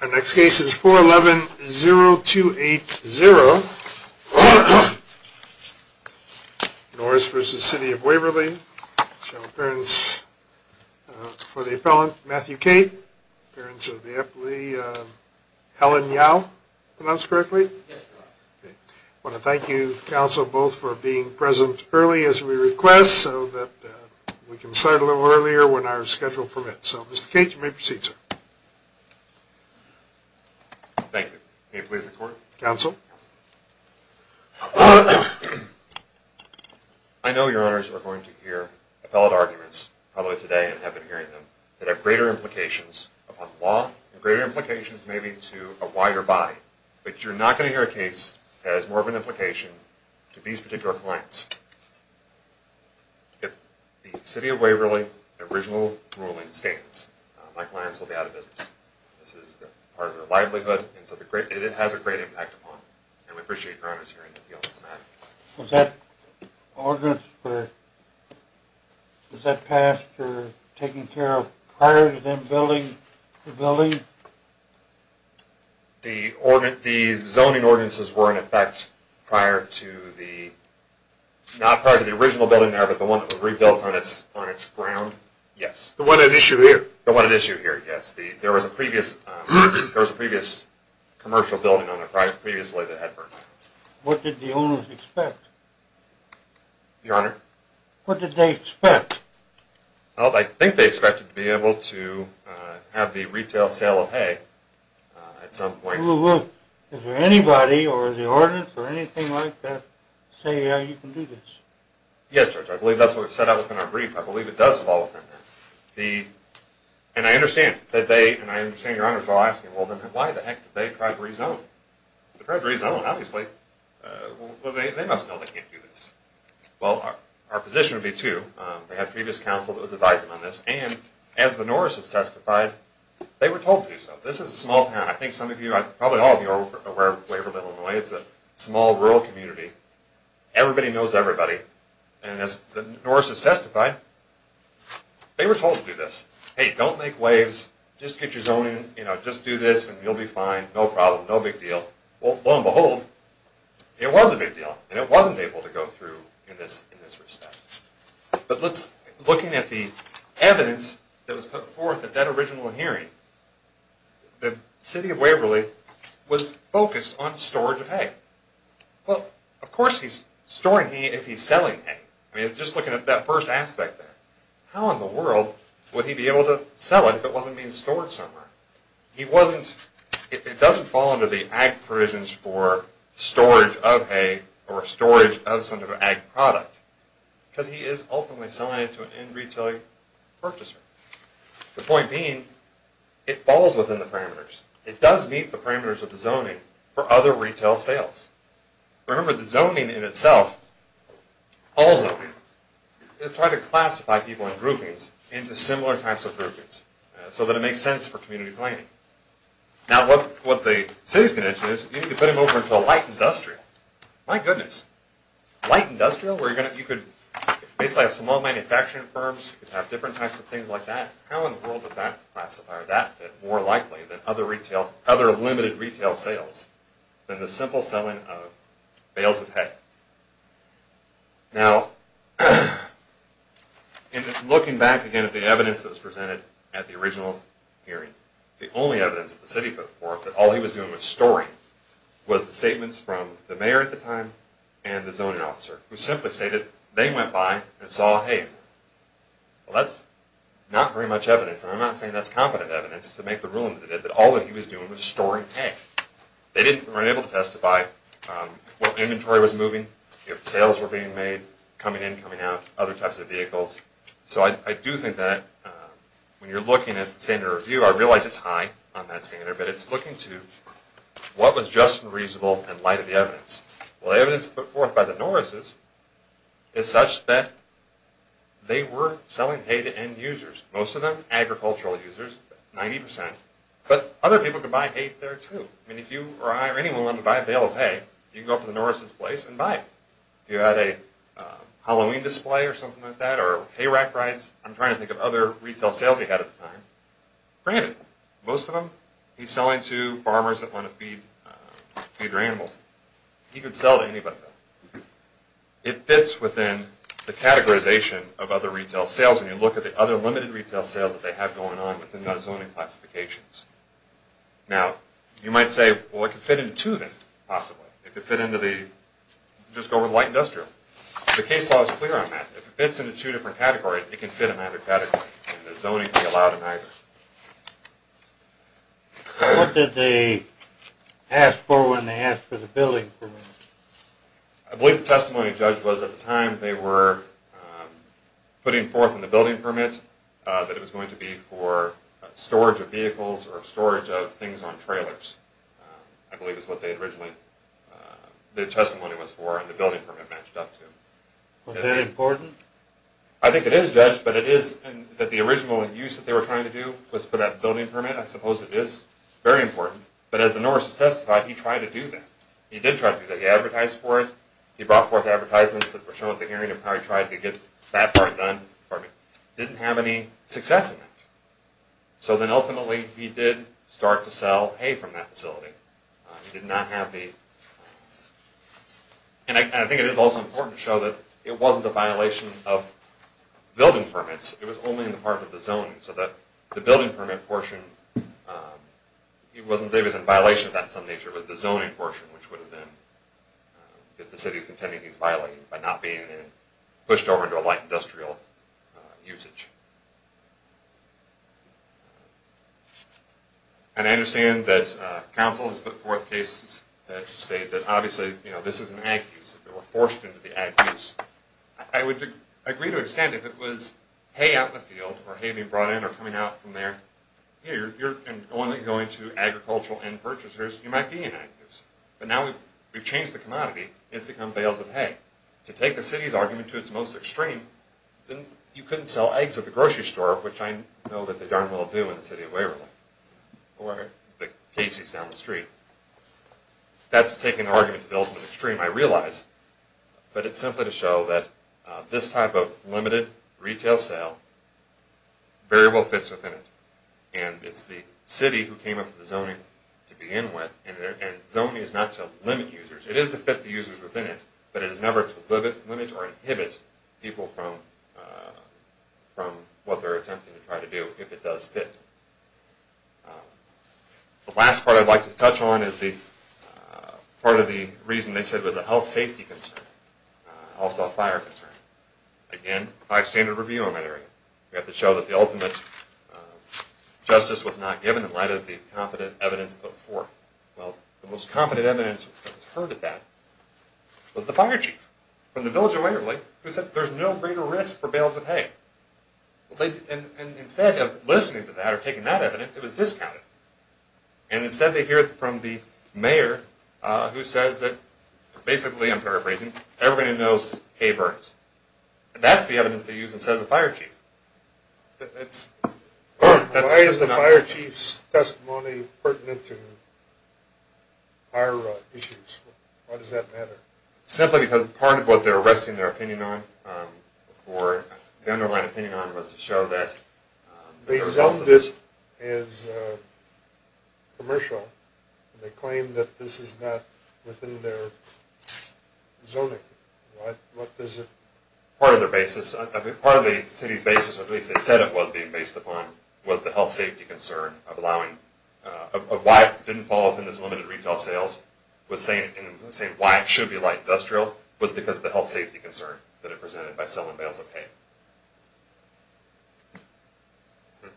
Our next case is 411-0280, Norris v. City of Waverly, which has an appearance for the appellant, Matthew Cate. Appearance of the appellee, Helen Yao, pronounced correctly. I want to thank you, counsel, both, for being present early as we request so that we can start a little earlier when our schedule permits. So, Mr. Cate, you may proceed, sir. Thank you. May it please the court? Counsel. I know your honors are going to hear appellate arguments, probably today and have been hearing them, that have greater implications upon law and greater implications maybe to a wider body. But you're not going to hear a case that has more of an implication to these particular clients. If the City of Waverly original ruling stands, my clients will be out of business. This is part of their livelihood, and so it has a great impact upon them. And we appreciate your honors hearing the appeal against Matthew. Was that ordinance, was that passed for taking care of prior to them building the building? The zoning ordinances were in effect prior to the, not prior to the original building there, but the one that was rebuilt on its ground. Yes. The one at issue here? The one at issue here, yes. There was a previous commercial building on the project previously that had burnt down. What did the owners expect? Your honor? What did they expect? Well, I think they expected to be able to have the retail sale of hay at some point. Well, is there anybody or is the ordinance or anything like that saying how you can do this? Yes, Judge, I believe that's what was set out within our brief. I believe it does fall within that. And I understand that they, and I understand your honors are all asking, well then why the heck did they try to rezone? They tried to rezone, obviously. Well, they must know they can't do this. Well, our position would be too. They had previous counsel that was advising on this, and as the Norris has testified, they were told to do so. This is a small town. I think some of you, probably all of you are aware of Waverly, Illinois. It's a small rural community. Everybody knows everybody. And as the Norris has testified, they were told to do this. Hey, don't make waves. Just get your zoning, you know, just do this and you'll be fine. No problem. No big deal. Well, lo and behold, it was a big deal, and it wasn't able to go through in this respect. But looking at the evidence that was put forth at that original hearing, the city of Waverly was focused on storage of hay. Well, of course he's storing hay if he's selling hay. I mean, just looking at that first aspect there. How in the world would he be able to sell it if it wasn't being stored somewhere? It doesn't fall under the ag provisions for storage of hay or storage of some type of ag product, because he is ultimately selling it to an in-retailer purchaser. The point being, it falls within the parameters. It does meet the parameters of the zoning for other retail sales. Remember, the zoning in itself, all zoning, is trying to classify people in groupings into similar types of groupings so that it makes sense for community planning. Now, what the city is going to do is you need to put him over into a light industrial. My goodness, light industrial where you could basically have small manufacturing firms. You could have different types of things like that. How in the world does that classify that more likely than other limited retail sales than the simple selling of bales of hay? Now, looking back again at the evidence that was presented at the original hearing, the only evidence that the city put forth that all he was doing was storing was the statements from the mayor at the time and the zoning officer, who simply stated they went by and saw hay. Well, that's not very much evidence, and I'm not saying that's competent evidence to make the ruling that it did, that all that he was doing was storing hay. They weren't able to testify what inventory was moving, if sales were being made, coming in, coming out, other types of vehicles. So I do think that when you're looking at the standard review, I realize it's high on that standard, but it's looking to what was just and reasonable in light of the evidence. Well, the evidence put forth by the Norrises is such that they were selling hay to end users, most of them agricultural users, 90%, but other people could buy hay there, too. I mean, if you or I or anyone wanted to buy a bale of hay, you could go up to the Norrises place and buy it. If you had a Halloween display or something like that, or hay rack rides, I'm trying to think of other retail sales he had at the time. Granted, most of them he's selling to farmers that want to feed their animals. He could sell to anybody. It fits within the categorization of other retail sales when you look at the other limited retail sales that they have going on within those zoning classifications. Now, you might say, well, it could fit into two of them, possibly. It could fit into the, just go with light industrial. The case law is clear on that. If it fits into two different categories, it can fit in either category. Zoning can be allowed in either. What did they ask for when they asked for the building permit? I believe the testimony, Judge, was at the time they were putting forth in the building permit that it was going to be for storage of vehicles or storage of things on trailers, I believe is what they had originally, their testimony was for and the building permit matched up to. Was that important? I think it is, Judge, but it is that the original use that they were trying to do was for that building permit. I suppose it is very important. But as the Norris has testified, he tried to do that. He did try to do that. He advertised for it. He brought forth advertisements that were shown at the hearing of how he tried to get that part done. He didn't have any success in that. So then ultimately, he did start to sell hay from that facility. He did not have the... And I think it is also important to show that it wasn't a violation of building permits. It was only in the part of the zoning so that the building permit portion, it wasn't that it was in violation of that in some nature. It was the zoning portion which would have been, if the city's contending he's violating, by not being pushed over into a light industrial usage. And I understand that council has put forth cases that state that obviously, you know, this is an ag use. They were forced into the ag use. I would agree to understand if it was hay out in the field or hay being brought in or coming out from there, you're only going to agricultural end purchasers, you might be in ag use. But now we've changed the commodity. It's become bales of hay. To take the city's argument to its most extreme, you couldn't sell eggs at the grocery store, which I know that they darn well do in the city of Waverly or the Casey's down the street. That's taking the argument to the ultimate extreme, I realize. But it's simply to show that this type of limited retail sale very well fits within it. And it's the city who came up with the zoning to begin with. And zoning is not to limit users. It is to fit the users within it. But it is never to limit or inhibit people from what they're attempting to try to do if it does fit. The last part I'd like to touch on is part of the reason they said it was a health safety concern, also a fire concern. Again, five standard review on that area. We have to show that the ultimate justice was not given in light of the competent evidence put forth. Well, the most competent evidence that was heard at that was the fire chief from the village of Waverly who said there's no greater risk for bales of hay. And instead of listening to that or taking that evidence, it was discounted. And instead they hear it from the mayor who says that basically, I'm paraphrasing, everybody knows hay burns. That's the evidence they use instead of the fire chief. Why is the fire chief's testimony pertinent to fire issues? Why does that matter? Simply because part of what they're resting their opinion on or the underlying opinion on was to show that the result of this is commercial. They claim that this is not within their zoning. What is it? Part of the city's basis, or at least they said it was being based upon, was the health safety concern of why it didn't fall within its limited retail sales and saying why it should be light industrial was because of the health safety concern that it presented by selling bales of hay.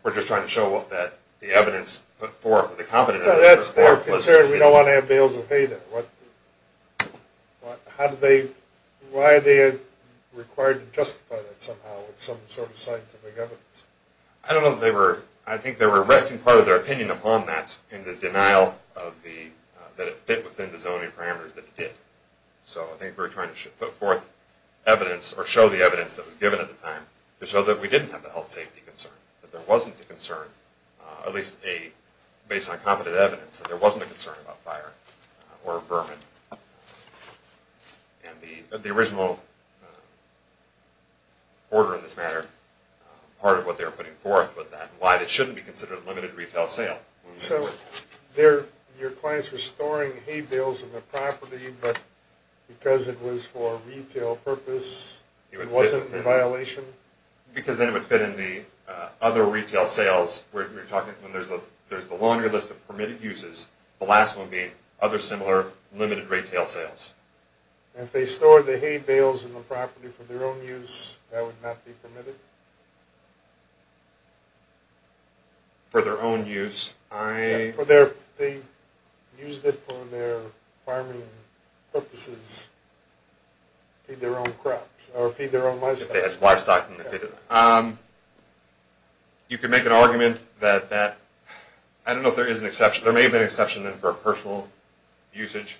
We're just trying to show that the evidence put forth, the competent evidence put forth was true. That's their concern. We don't want to have bales of hay there. Why are they required to justify that somehow with some sort of scientific evidence? I don't know. I think they were resting part of their opinion upon that in the denial that it fit within the zoning parameters that it did. So I think we're trying to put forth evidence or show the evidence that was given at the time to show that we didn't have the health safety concern, that there wasn't a concern, at least based on competent evidence, that there wasn't a concern about fire or vermin. The original order in this matter, part of what they were putting forth, was that why it shouldn't be considered a limited retail sale. So your clients were storing hay bales in the property, but because it was for retail purpose, it wasn't a violation? Because then it would fit in the other retail sales. When there's the laundry list of permitted uses, the last one being other similar limited retail sales. And if they stored the hay bales in the property for their own use, that would not be permitted? For their own use? They used it for their farming purposes to feed their own crops, or feed their own livestock. You could make an argument that there may have been an exception for personal usage.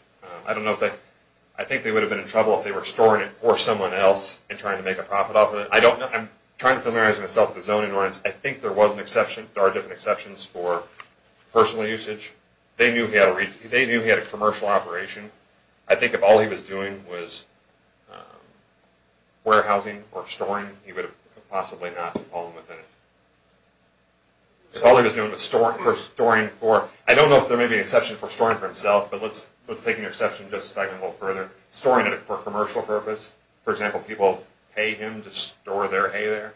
I think they would have been in trouble if they were storing it for someone else and trying to make a profit off of it. I'm trying to familiarize myself with zoning rights. I think there are different exceptions for personal usage. They knew he had a commercial operation. I think if all he was doing was warehousing or storing, he would have possibly not fallen within it. If all he was doing was storing for... I don't know if there may be an exception for storing for himself, but let's take an exception just a second a little further. Storing it for commercial purpose. For example, people pay him to store their hay there,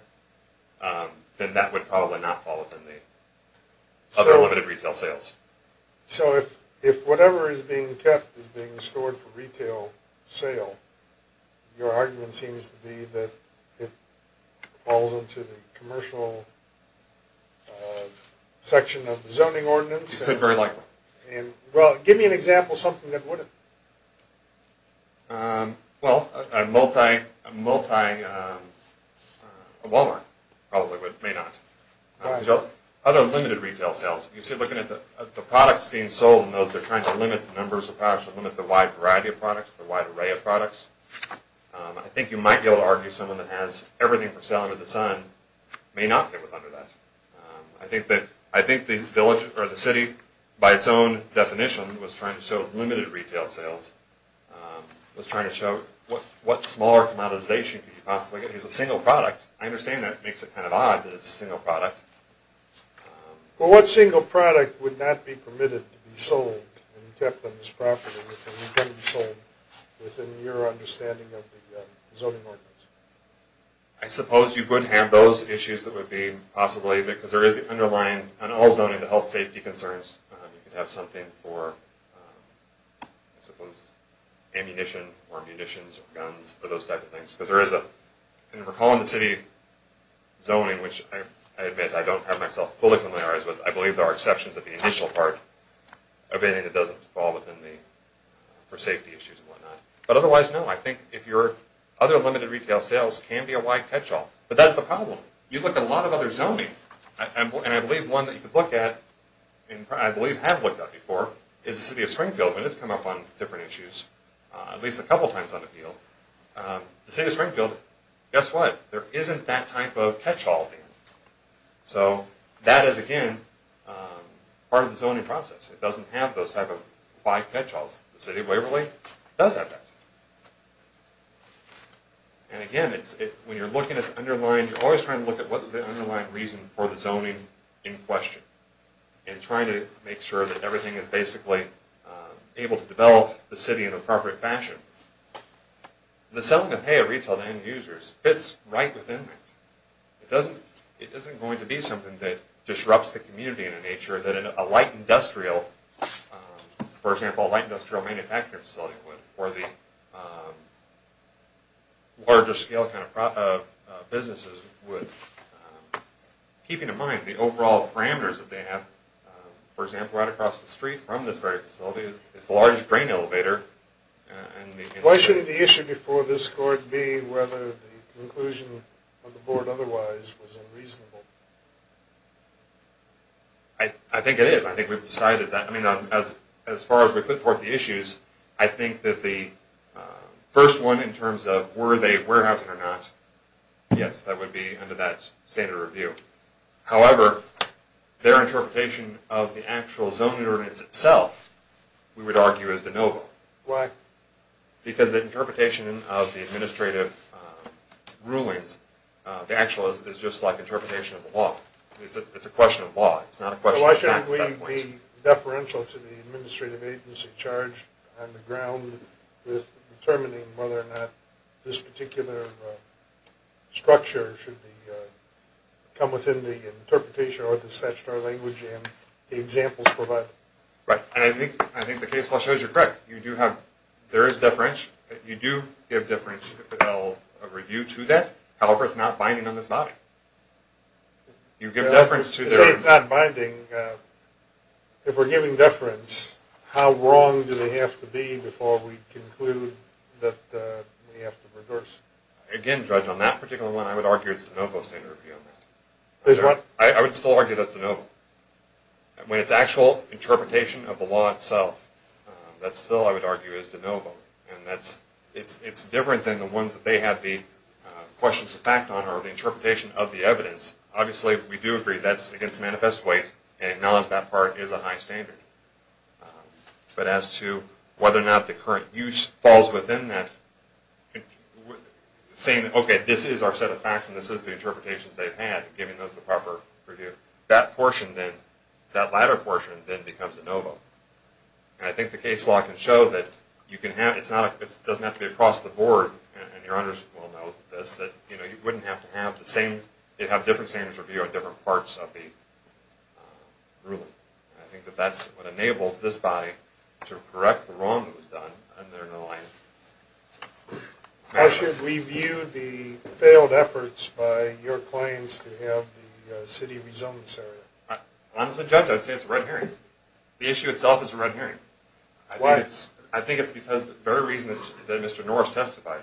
then that would probably not fall within the other limited retail sales. So if whatever is being kept is being stored for retail sale, your argument seems to be that it falls into the commercial section of the zoning ordinance. It could very likely. Give me an example of something that wouldn't. Well, a Walmart probably may not. Other limited retail sales. You see looking at the products being sold, they're trying to limit the numbers of products, limit the wide variety of products, the wide array of products. I think you might be able to argue someone that has everything for sale under the sun may not fit under that. I think the village or the city, by its own definition, was trying to show limited retail sales, was trying to show what smaller commoditization could you possibly get. It's a single product. I understand that makes it kind of odd that it's a single product. Well, what single product would not be permitted to be sold and kept on this property that can be sold within your understanding of the zoning ordinance? I suppose you could have those issues that would be possibly because there is the underlying health safety concerns. You could have something for, I suppose, ammunition or munitions or guns or those type of things because there is a, and recalling the city zoning, which I admit I don't have myself fully familiarized with, I believe there are exceptions at the initial part of anything that doesn't fall within the, for safety issues and whatnot. But otherwise, no, I think if your other limited retail sales can be a wide catch-all. But that's the problem. You look at a lot of other zoning, and I believe one that you could look at, and I believe have looked at before, is the city of Springfield, and it's come up on different issues at least a couple times on the field. The city of Springfield, guess what? There isn't that type of catch-all there. So that is, again, part of the zoning process. It doesn't have those type of wide catch-alls. The city of Waverly does have that. And again, when you're looking at the underlying, you're always trying to look at what is the underlying reason for the zoning in question and trying to make sure that everything is basically able to develop the city in an appropriate fashion. The selling of hay at retail to end-users fits right within that. It isn't going to be something that disrupts the community in a nature that a light industrial, for example, a light industrial manufacturing facility would, or the larger scale kind of businesses would. Keeping in mind the overall parameters that they have, for example, right across the street from this very facility, it's the largest grain elevator. Why shouldn't the issue before this court be whether the conclusion of the board otherwise was unreasonable? I think it is. I think we've decided that. I mean, as far as we put forth the issues, I think that the first one in terms of were they warehousing or not, yes, that would be under that standard review. However, their interpretation of the actual zoning ordinance itself, we would argue is de novo. Why? Because the interpretation of the administrative rulings, the actual is just like interpretation of the law. It's a question of law. It's not a question of fact at that point. Why shouldn't we be deferential to the administrative agency charged on the ground with determining whether or not this particular structure should come within the interpretation or the statutory language and the examples provided? Right. And I think the case law shows you're correct. You do have, there is deferential. You do give deferential review to that. However, it's not binding on this body. You give deference to that. To say it's not binding, if we're giving deference, how wrong do they have to be before we conclude that we have to reverse it? Again, Judge, on that particular one, I would argue it's de novo standard review. I'm sorry? I would still argue that's de novo. When it's actual interpretation of the law itself, that still, I would argue, is de novo. And it's different than the ones that they have the questions of fact on or the interpretation of the evidence. Obviously, we do agree that's against manifest weight, and acknowledge that part is a high standard. But as to whether or not the current use falls within that, saying, okay, this is our set of facts, and this is the interpretations they've had, giving them the proper review, that portion then, that latter portion, then becomes de novo. And I think the case law can show that you can have, it doesn't have to be across the board, and your honors will know this, that you wouldn't have to have the same, you'd have different standards of view on different parts of the ruling. And I think that that's what enables this body to correct the wrong that was done under the law. How should we view the failed efforts by your claims to have the city rezone this area? Honestly, Judge, I'd say it's a red herring. The issue itself is a red herring. Why? I think it's because the very reason that Mr. Norris testified,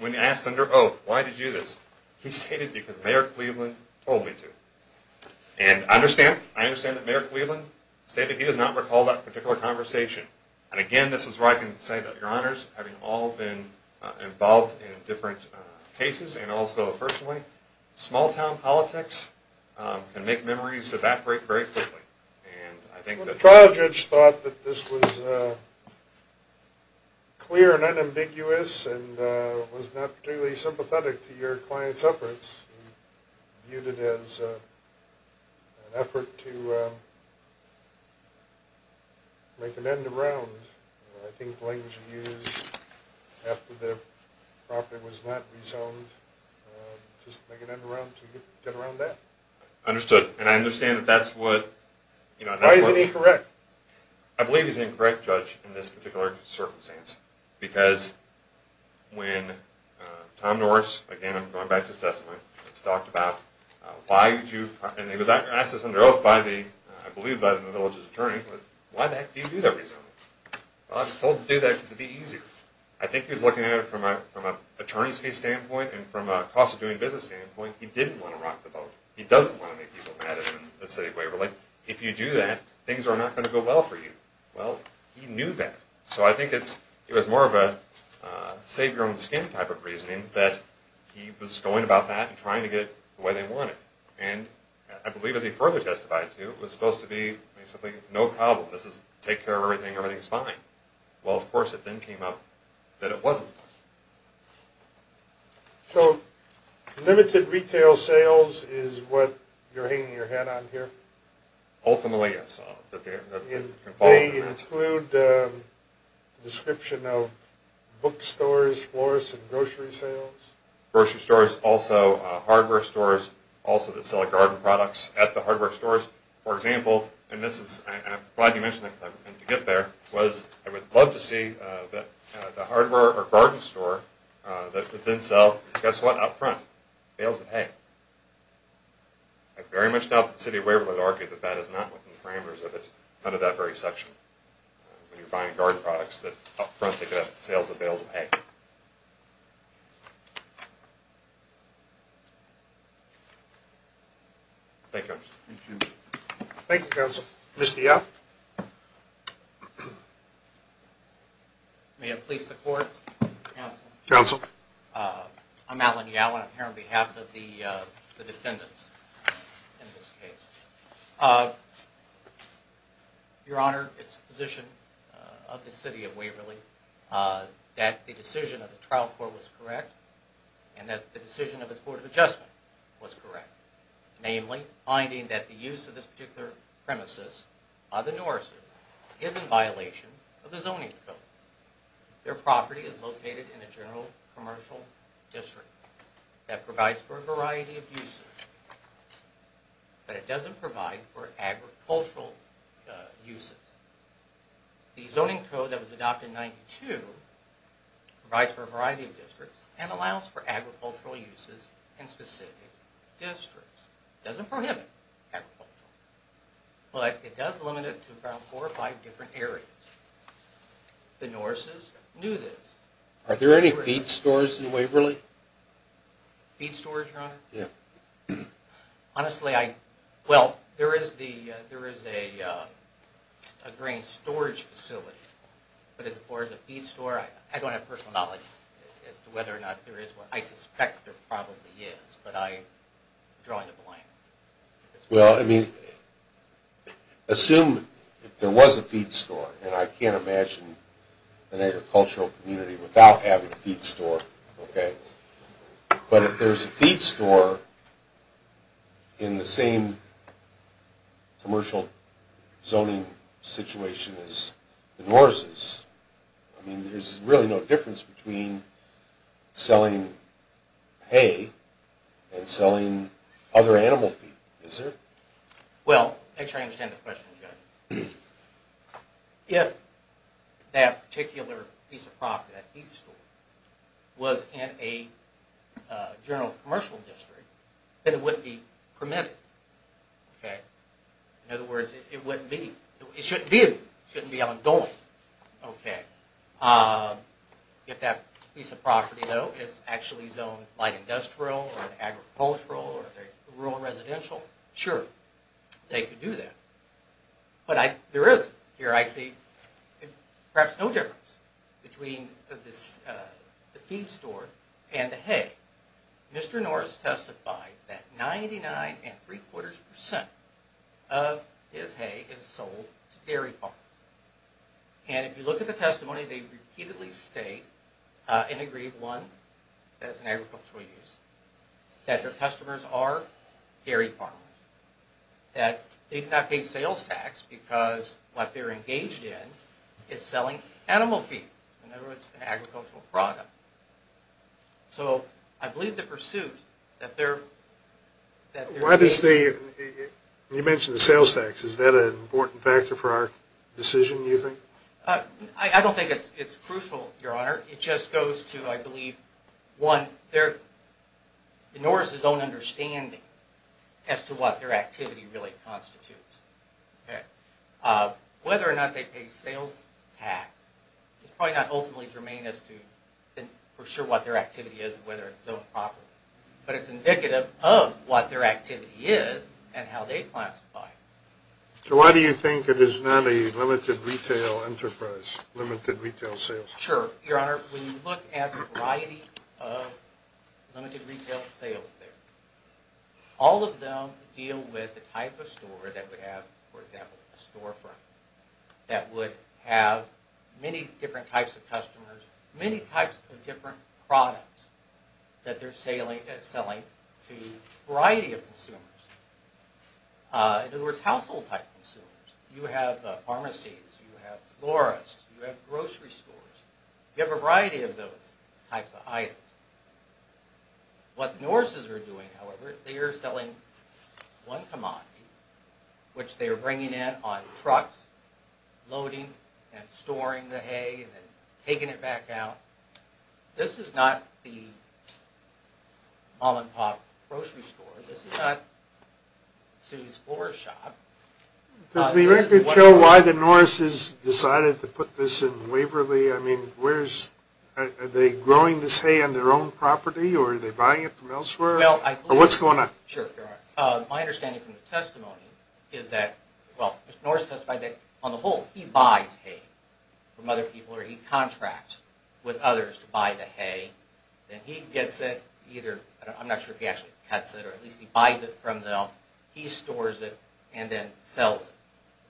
when asked under oath, why did you do this? He stated, because Mayor Cleveland told me to. And I understand that Mayor Cleveland stated he does not recall that particular conversation. And again, this is where I can say that, your honors, having all been involved in different cases, and also personally, small-town politics can make memories evaporate very quickly. And I think that... Well, the trial judge thought that this was clear and unambiguous, and was not particularly sympathetic to your client's efforts. He viewed it as an effort to make an end around. I think the language he used after the property was not rezoned, just to make an end around, to get around that. Understood. And I understand that that's what... Why is it incorrect? I believe he's an incorrect judge in this particular circumstance. Because when Tom Norris, again, I'm going back to his testimony, has talked about why you do... And he was asked this under oath by the, I believe by the village's attorney, why the heck do you do that rezoning? Well, I was told to do that because it would be easier. I think he was looking at it from an attorney's standpoint, and from a cost-of-doing-business standpoint, he didn't want to rock the boat. He doesn't want to make people mad at him and say, if you do that, things are not going to go well for you. Well, he knew that. So I think it was more of a save-your-own-skin type of reasoning that he was going about that and trying to get it the way they wanted. And I believe, as he further testified to, it was supposed to be basically no problem. This is take care of everything, everything's fine. Well, of course, it then came up that it wasn't. So limited retail sales is what you're hanging your hat on here? Ultimately, yes. They exclude the description of bookstores, florists, and grocery sales? Grocery stores, also hardware stores, also that sell garden products at the hardware stores. For example, and I'm glad you mentioned that because I didn't mean to get there, I would love to see the hardware or garden store that would then sell, guess what, up front, bales of hay. I very much doubt that the City of Waverly would argue that that is not within the parameters of it under that very section. When you're buying garden products, that up front they could have sales of bales of hay. Thank you. Thank you. Thank you, Counsel. Mr. Yow? May it please the Court? Counsel. Counsel. I'm Alan Yow, and I'm here on behalf of the defendants in this case. Your Honor, it's the position of the City of Waverly that the decision of the trial court was correct and that the decision of its Board of Adjustment was correct. Namely, finding that the use of this particular premises, the Norrison, is in violation of the Zoning Code. Their property is located in a general commercial district that provides for a variety of uses, but it doesn't provide for agricultural uses. The Zoning Code that was adopted in 1992 provides for a variety of districts and allows for agricultural uses in specific districts. It doesn't prohibit agriculture, but it does limit it to about four or five different areas. The Norrisons knew this. Are there any feed stores in Waverly? Feed stores, Your Honor? Yeah. Honestly, I... Well, there is a grain storage facility, but as far as a feed store, I don't have personal knowledge as to whether or not there is one. I suspect there probably is, but I'm drawing a blank. Well, I mean, assume there was a feed store, and I can't imagine an agricultural community without having a feed store, okay? But if there's a feed store in the same commercial zoning situation as the Norrisons, I mean, there's really no difference between selling hay and selling other animal feed, is there? Well, make sure I understand the question, Judge. If that particular piece of property, that feed store, was in a general commercial district, then it wouldn't be permitted, okay? In other words, it wouldn't be. It shouldn't be. It shouldn't be on going, okay? If that piece of property, though, is actually zoned light industrial or agricultural or rural residential, sure, they could do that. But there is, here I see, perhaps no difference between the feed store and the hay. Mr. Norris testified that 99.75% of his hay is sold to dairy farms. And if you look at the testimony, they repeatedly state and agreed, one, that it's an agricultural use, that their customers are dairy farmers, that they do not pay sales tax because what they're engaged in is selling animal feed. In other words, an agricultural product. So I believe the pursuit that they're... Why does the... you mentioned the sales tax. Is that an important factor for our decision, do you think? I don't think it's crucial, Your Honor. It just goes to, I believe, one, Norris' own understanding as to what their activity really constitutes. Whether or not they pay sales tax is probably not ultimately germane as to for sure what their activity is and whether it's zoned property. But it's indicative of what their activity is and how they classify it. So why do you think it is not a limited retail enterprise, limited retail sales? Sure, Your Honor. When you look at the variety of limited retail sales there, all of them deal with the type of store that would have, for example, a storefront that would have many different types of customers, many types of different products that they're selling to a variety of consumers. In other words, household-type consumers. You have pharmacies, you have florists, you have grocery stores. You have a variety of those types of items. What Norris' are doing, however, they are selling one commodity, which they are bringing in on trucks, loading and storing the hay and then taking it back out. This is not the mom-and-pop grocery store. This is not Sue's Florist Shop. Does the record show why the Norris' decided to put this in Waverly? I mean, are they growing this hay on their own property or are they buying it from elsewhere? Or what's going on? Sure, Your Honor. My understanding from the testimony is that, well, Norris testified that, on the whole, he buys hay from other people or he contracts with others to buy the hay. Then he gets it either, I'm not sure if he actually cuts it, or at least he buys it from them. He stores it and then sells it.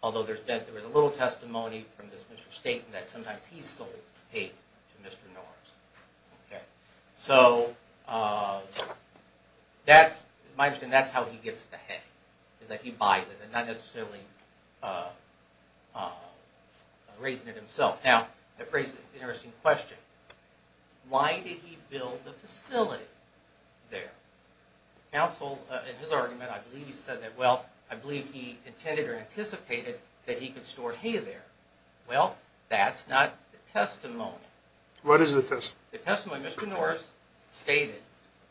Although there was a little testimony from this Mr. Staten that sometimes he sold hay to Mr. Norris. So, that's, my understanding, that's how he gets the hay, is that he buys it and not necessarily raising it himself. Now, that raises an interesting question. Why did he build the facility there? Counsel, in his argument, I believe he said that, well, I believe he intended or anticipated that he could store hay there. Well, that's not the testimony. What is the testimony? The testimony Mr. Norris stated,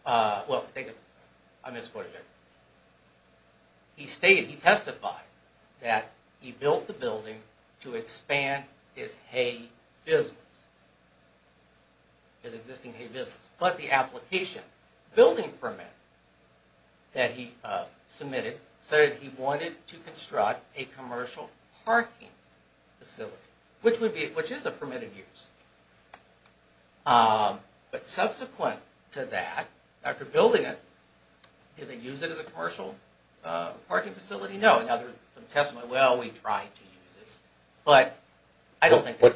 well, I misquoted it. He stated, he testified, that he built the building to expand his hay business, his existing hay business. But the application, building permit, that he submitted, said he wanted to construct a commercial parking facility, which is a permitted use. But subsequent to that, after building it, did they use it as a commercial parking facility? No. Well, we tried to use it. What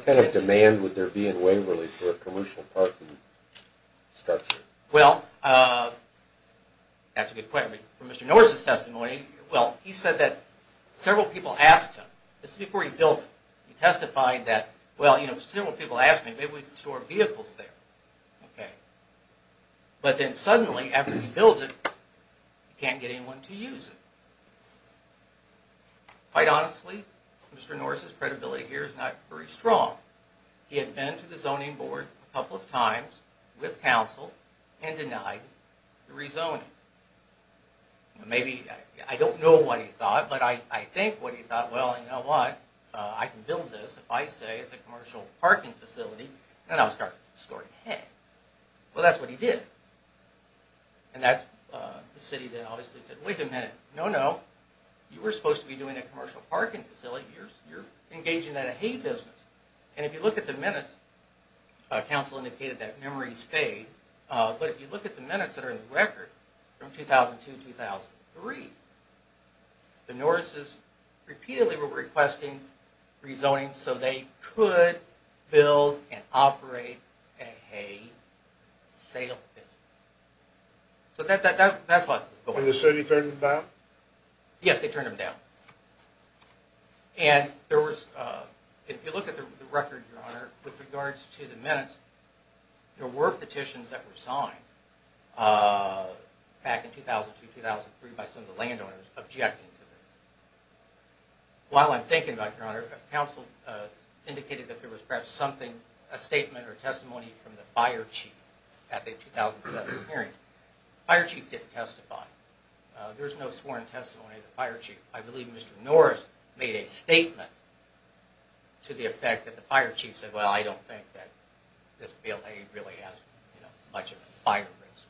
kind of demand would there be in Waverly for a commercial parking structure? Well, that's a good question. From Mr. Norris' testimony, well, he said that several people asked him, this is before he built it, he testified that, well, several people asked me, maybe we can store vehicles there. But then suddenly, after he built it, he can't get anyone to use it. Quite honestly, Mr. Norris' credibility here is not very strong. He had been to the zoning board a couple of times with counsel and denied the rezoning. Maybe, I don't know what he thought, but I think what he thought, well, you know what, I can build this, if I say it's a commercial parking facility, then I'll start storing hay. Well, that's what he did. And that's the city that obviously said, wait a minute, no, no, you were supposed to be doing a commercial parking facility, you're engaging in a hay business. And if you look at the minutes, counsel indicated that memory stayed, but if you look at the minutes that are in the record, from 2002-2003, the Norris' repeatedly were requesting rezoning so they could build and operate a hay sale business. So that's what was going on. And the city turned them down? Yes, they turned them down. And there was, if you look at the record, Your Honor, with regards to the minutes, there were petitions that were signed back in 2002-2003 by some of the landowners objecting to this. While I'm thinking about it, Your Honor, counsel indicated that there was perhaps something, a statement or testimony from the fire chief at the 2007 hearing. Fire chief didn't testify. There's no sworn testimony of the fire chief. I believe Mr. Norris made a statement to the effect that the fire chief said, well, I don't think that this built hay really has much of a fire risk.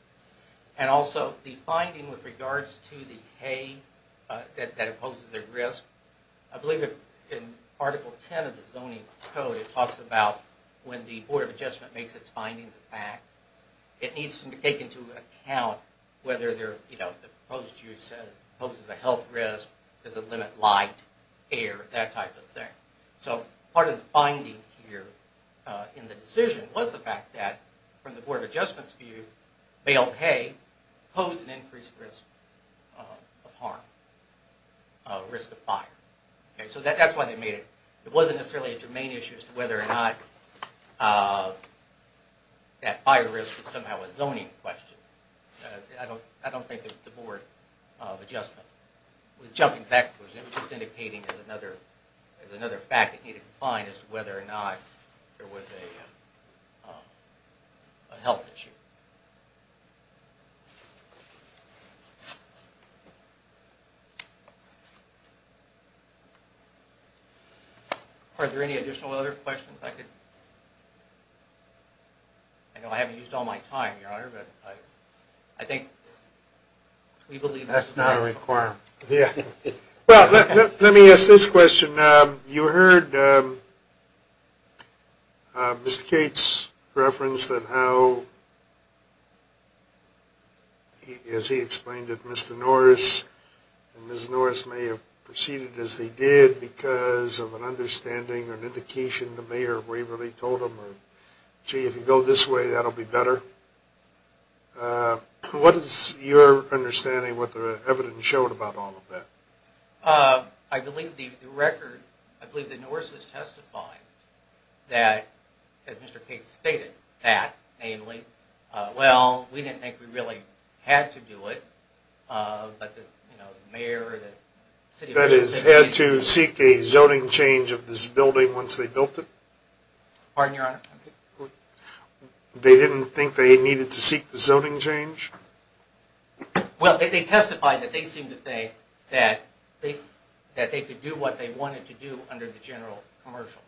And also, the finding with regards to the hay that it poses a risk, I believe in Article 10 of the Zoning Code it talks about when the Board of Adjustment makes its findings of fact, it needs to take into account whether the proposed use says it poses a health risk, does it limit light, air, that type of thing. So part of the finding here in the decision was the fact that, from the Board of Adjustment's view, built hay posed an increased risk of harm, risk of fire. So that's why they made it. It wasn't necessarily a germane issue as to whether or not that fire risk was somehow a zoning question. I don't think that the Board of Adjustment was jumping backwards. It was just indicating as another fact that needed to be defined as to whether or not there was a health issue. Are there any additional other questions? I know I haven't used all my time, Your Honor, but I think we believe... That's not a requirement. Let me ask this question. You heard Mr. Cates' reference that how, as he explained it, Mr. Norris and Ms. Norris may have proceeded as they did because of an understanding or an indication the mayor waverly told them. Gee, if you go this way, that'll be better. What is your understanding, what the evidence showed about all of that? I believe the record... I believe that Norris has testified that, as Mr. Cates stated, that, namely, well, we didn't think we really had to do it, but the mayor... That is, had to seek a zoning change of this building once they built it? Pardon, Your Honor? They didn't think they needed to seek the zoning change? Well, they testified that they seemed to think that they could do what they wanted to do under the general commercial.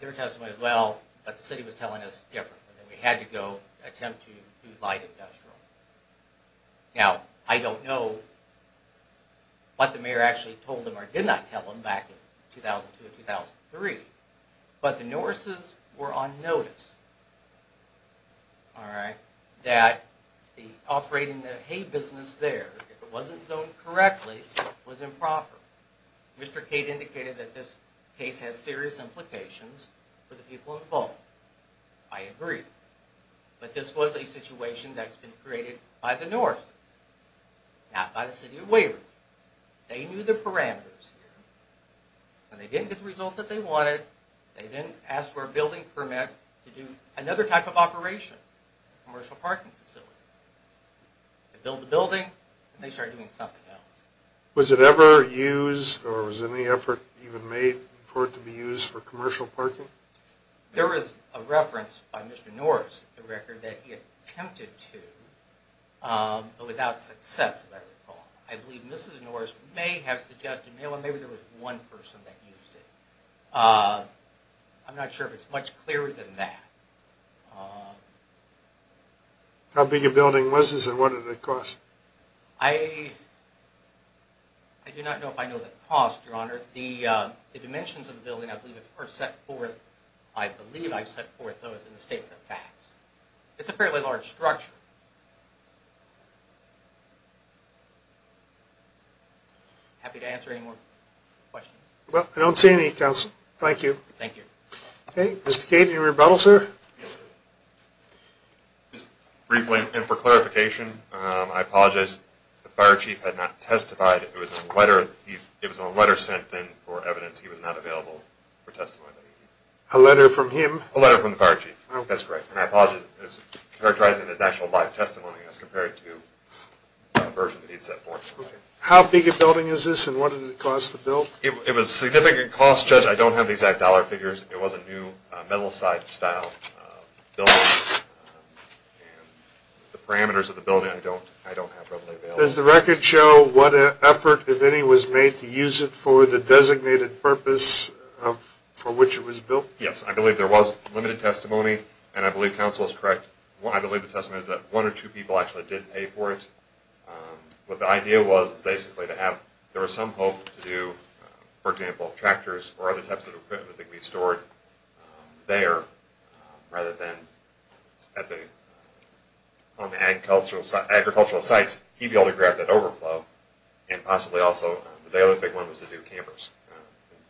Their testimony was, well, but the city was telling us differently. We had to go attempt to do light industrial. Now, I don't know what the mayor actually told them or did not tell them back in 2002 and 2003, but the Norrises were on notice that the operating the hay business there, if it wasn't zoned correctly, was improper. Mr. Cate indicated that this case has serious implications for the people involved. I agree. But this was a situation that's been created by the Norrises, not by the city of Waverly. They knew the parameters here, and they didn't get the result that they wanted. They then asked for a building permit to do another type of operation, a commercial parking facility. They built the building, and they started doing something else. Was it ever used, or was any effort even made for it to be used for commercial parking? There is a reference by Mr. Norris, the record, that he attempted to, but without success, if I recall. I believe Mrs. Norris may have suggested, maybe there was one person that used it. I'm not sure if it's much clearer than that. How big a building was this, and what did it cost? I do not know if I know the cost, Your Honor. The dimensions of the building are set forth, I believe I've set forth those in the Statement of Facts. It's a fairly large structure. Happy to answer any more questions. Well, I don't see any, Counsel. Thank you. Thank you. Okay, Mr. Cade, any rebuttal, sir? Just briefly, and for clarification, I apologize. The fire chief had not testified. It was a letter sent in for evidence. He was not available for testimony. A letter from him? A letter from the fire chief. That's correct. And I apologize. It's characterizing his actual live testimony as compared to a version that he had set forth. How big a building is this, and what did it cost to build? It was a significant cost, Judge. I don't have the exact dollar figures. It was a new, metal-side style building. The parameters of the building, I don't have readily available. Does the record show what effort, if any, was made to use it for the designated purpose for which it was built? Yes, I believe there was limited testimony, and I believe Counsel is correct. I believe the testimony is that one or two people actually did pay for it. But the idea was basically to have, there was some hope to do, for example, tractors or other types of equipment that could be stored there, rather than at the agricultural sites, he'd be able to grab that overflow, and possibly also, the other big one was to do campers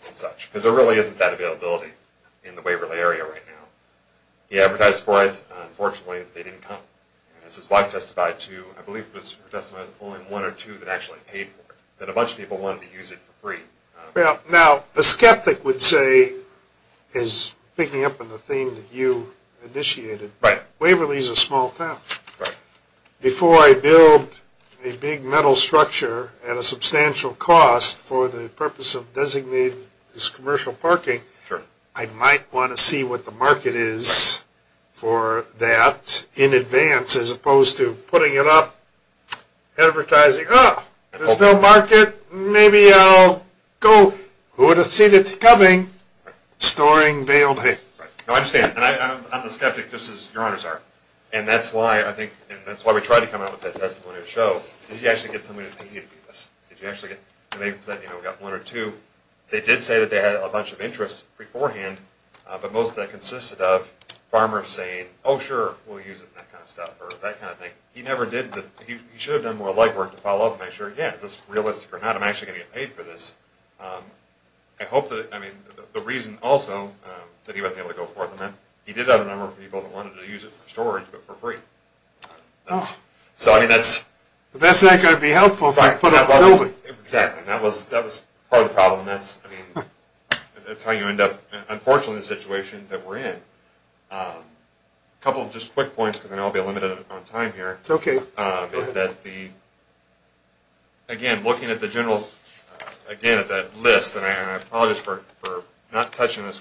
and such. Because there really isn't that availability in the Waverly area right now. He advertised for it. Unfortunately, they didn't come. As his wife testified too, I believe it was her testimony that only one or two had actually paid for it, that a bunch of people wanted to use it for free. Now, a skeptic would say, is picking up on the theme that you initiated, Waverly is a small town. Right. Before I build a big metal structure at a substantial cost for the purpose of designating this commercial parking, I might want to see what the market is for that in advance, as opposed to putting it up, advertising, oh, there's no market, maybe I'll go. Who would have seen it coming? Storing, bail, hey. I understand. I'm a skeptic, just as your honors are. And that's why I think, that's why we tried to come out with that testimony to show, did you actually get somebody to pay you to do this? Did you actually get, and they said, you know, we got one or two. They did say that they had a bunch of interest beforehand, but most of that consisted of farmers saying, oh sure, we'll use it and that kind of stuff, or that kind of thing. He never did the, he should have done more legwork to follow up and make sure, yeah, is this realistic or not, I'm actually going to get paid for this. I hope that, I mean, the reason also that he wasn't able to go forth on that, he did have a number of people that wanted to use it for storage, but for free. So, I mean, that's... But that's not going to be helpful if I put up a building. That was part of the problem. That's, I mean, that's how you end up, unfortunately, the situation that we're in. A couple of just quick points, because I know I'll be limited on time here. Okay. Is that the, again, looking at the general, again, at that list, and I apologize for not touching this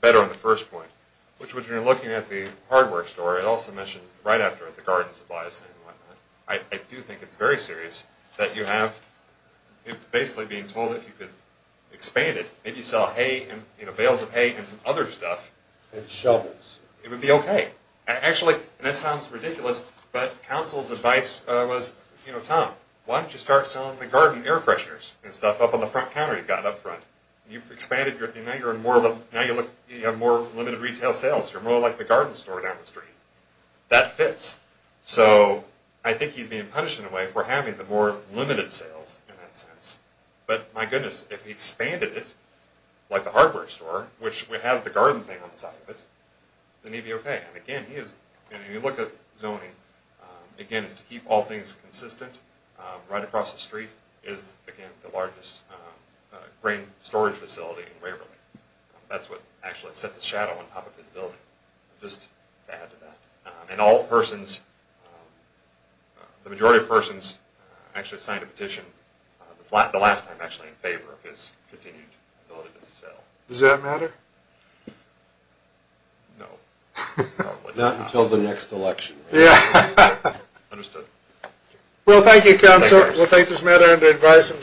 better on the first point, which was when you're looking at the hardware store, it also mentions right after it, the garden supplies and whatnot. I do think it's very serious that you have, it's basically being told if you could expand it, maybe sell hay and, you know, bales of hay and some other stuff. And shovels. It would be okay. Actually, and this sounds ridiculous, but council's advice was, you know, Tom, why don't you start selling the garden air fresheners and stuff up on the front counter you've got up front. You've expanded, and now you're in more of a, now you look, you have more limited retail sales. You're more like the garden store down the street. That fits. So, I think he's being punished in a way for having the more limited sales, in that sense. But, my goodness, if he expanded it, like the hardware store, which has the garden thing on the side of it, then he'd be okay. And again, he is, and you look at zoning, again, it's to keep all things consistent. Right across the street is, again, the largest grain storage facility in Waverly. That's what actually sets a shadow on top of his building. Just add to that. And all persons, the majority of persons actually signed a petition, the last time actually, in favor of his continued ability to sell. Does that matter? No. Probably not. Not until the next election. Yeah. Understood. Well, thank you, council. We'll take this matter into advice.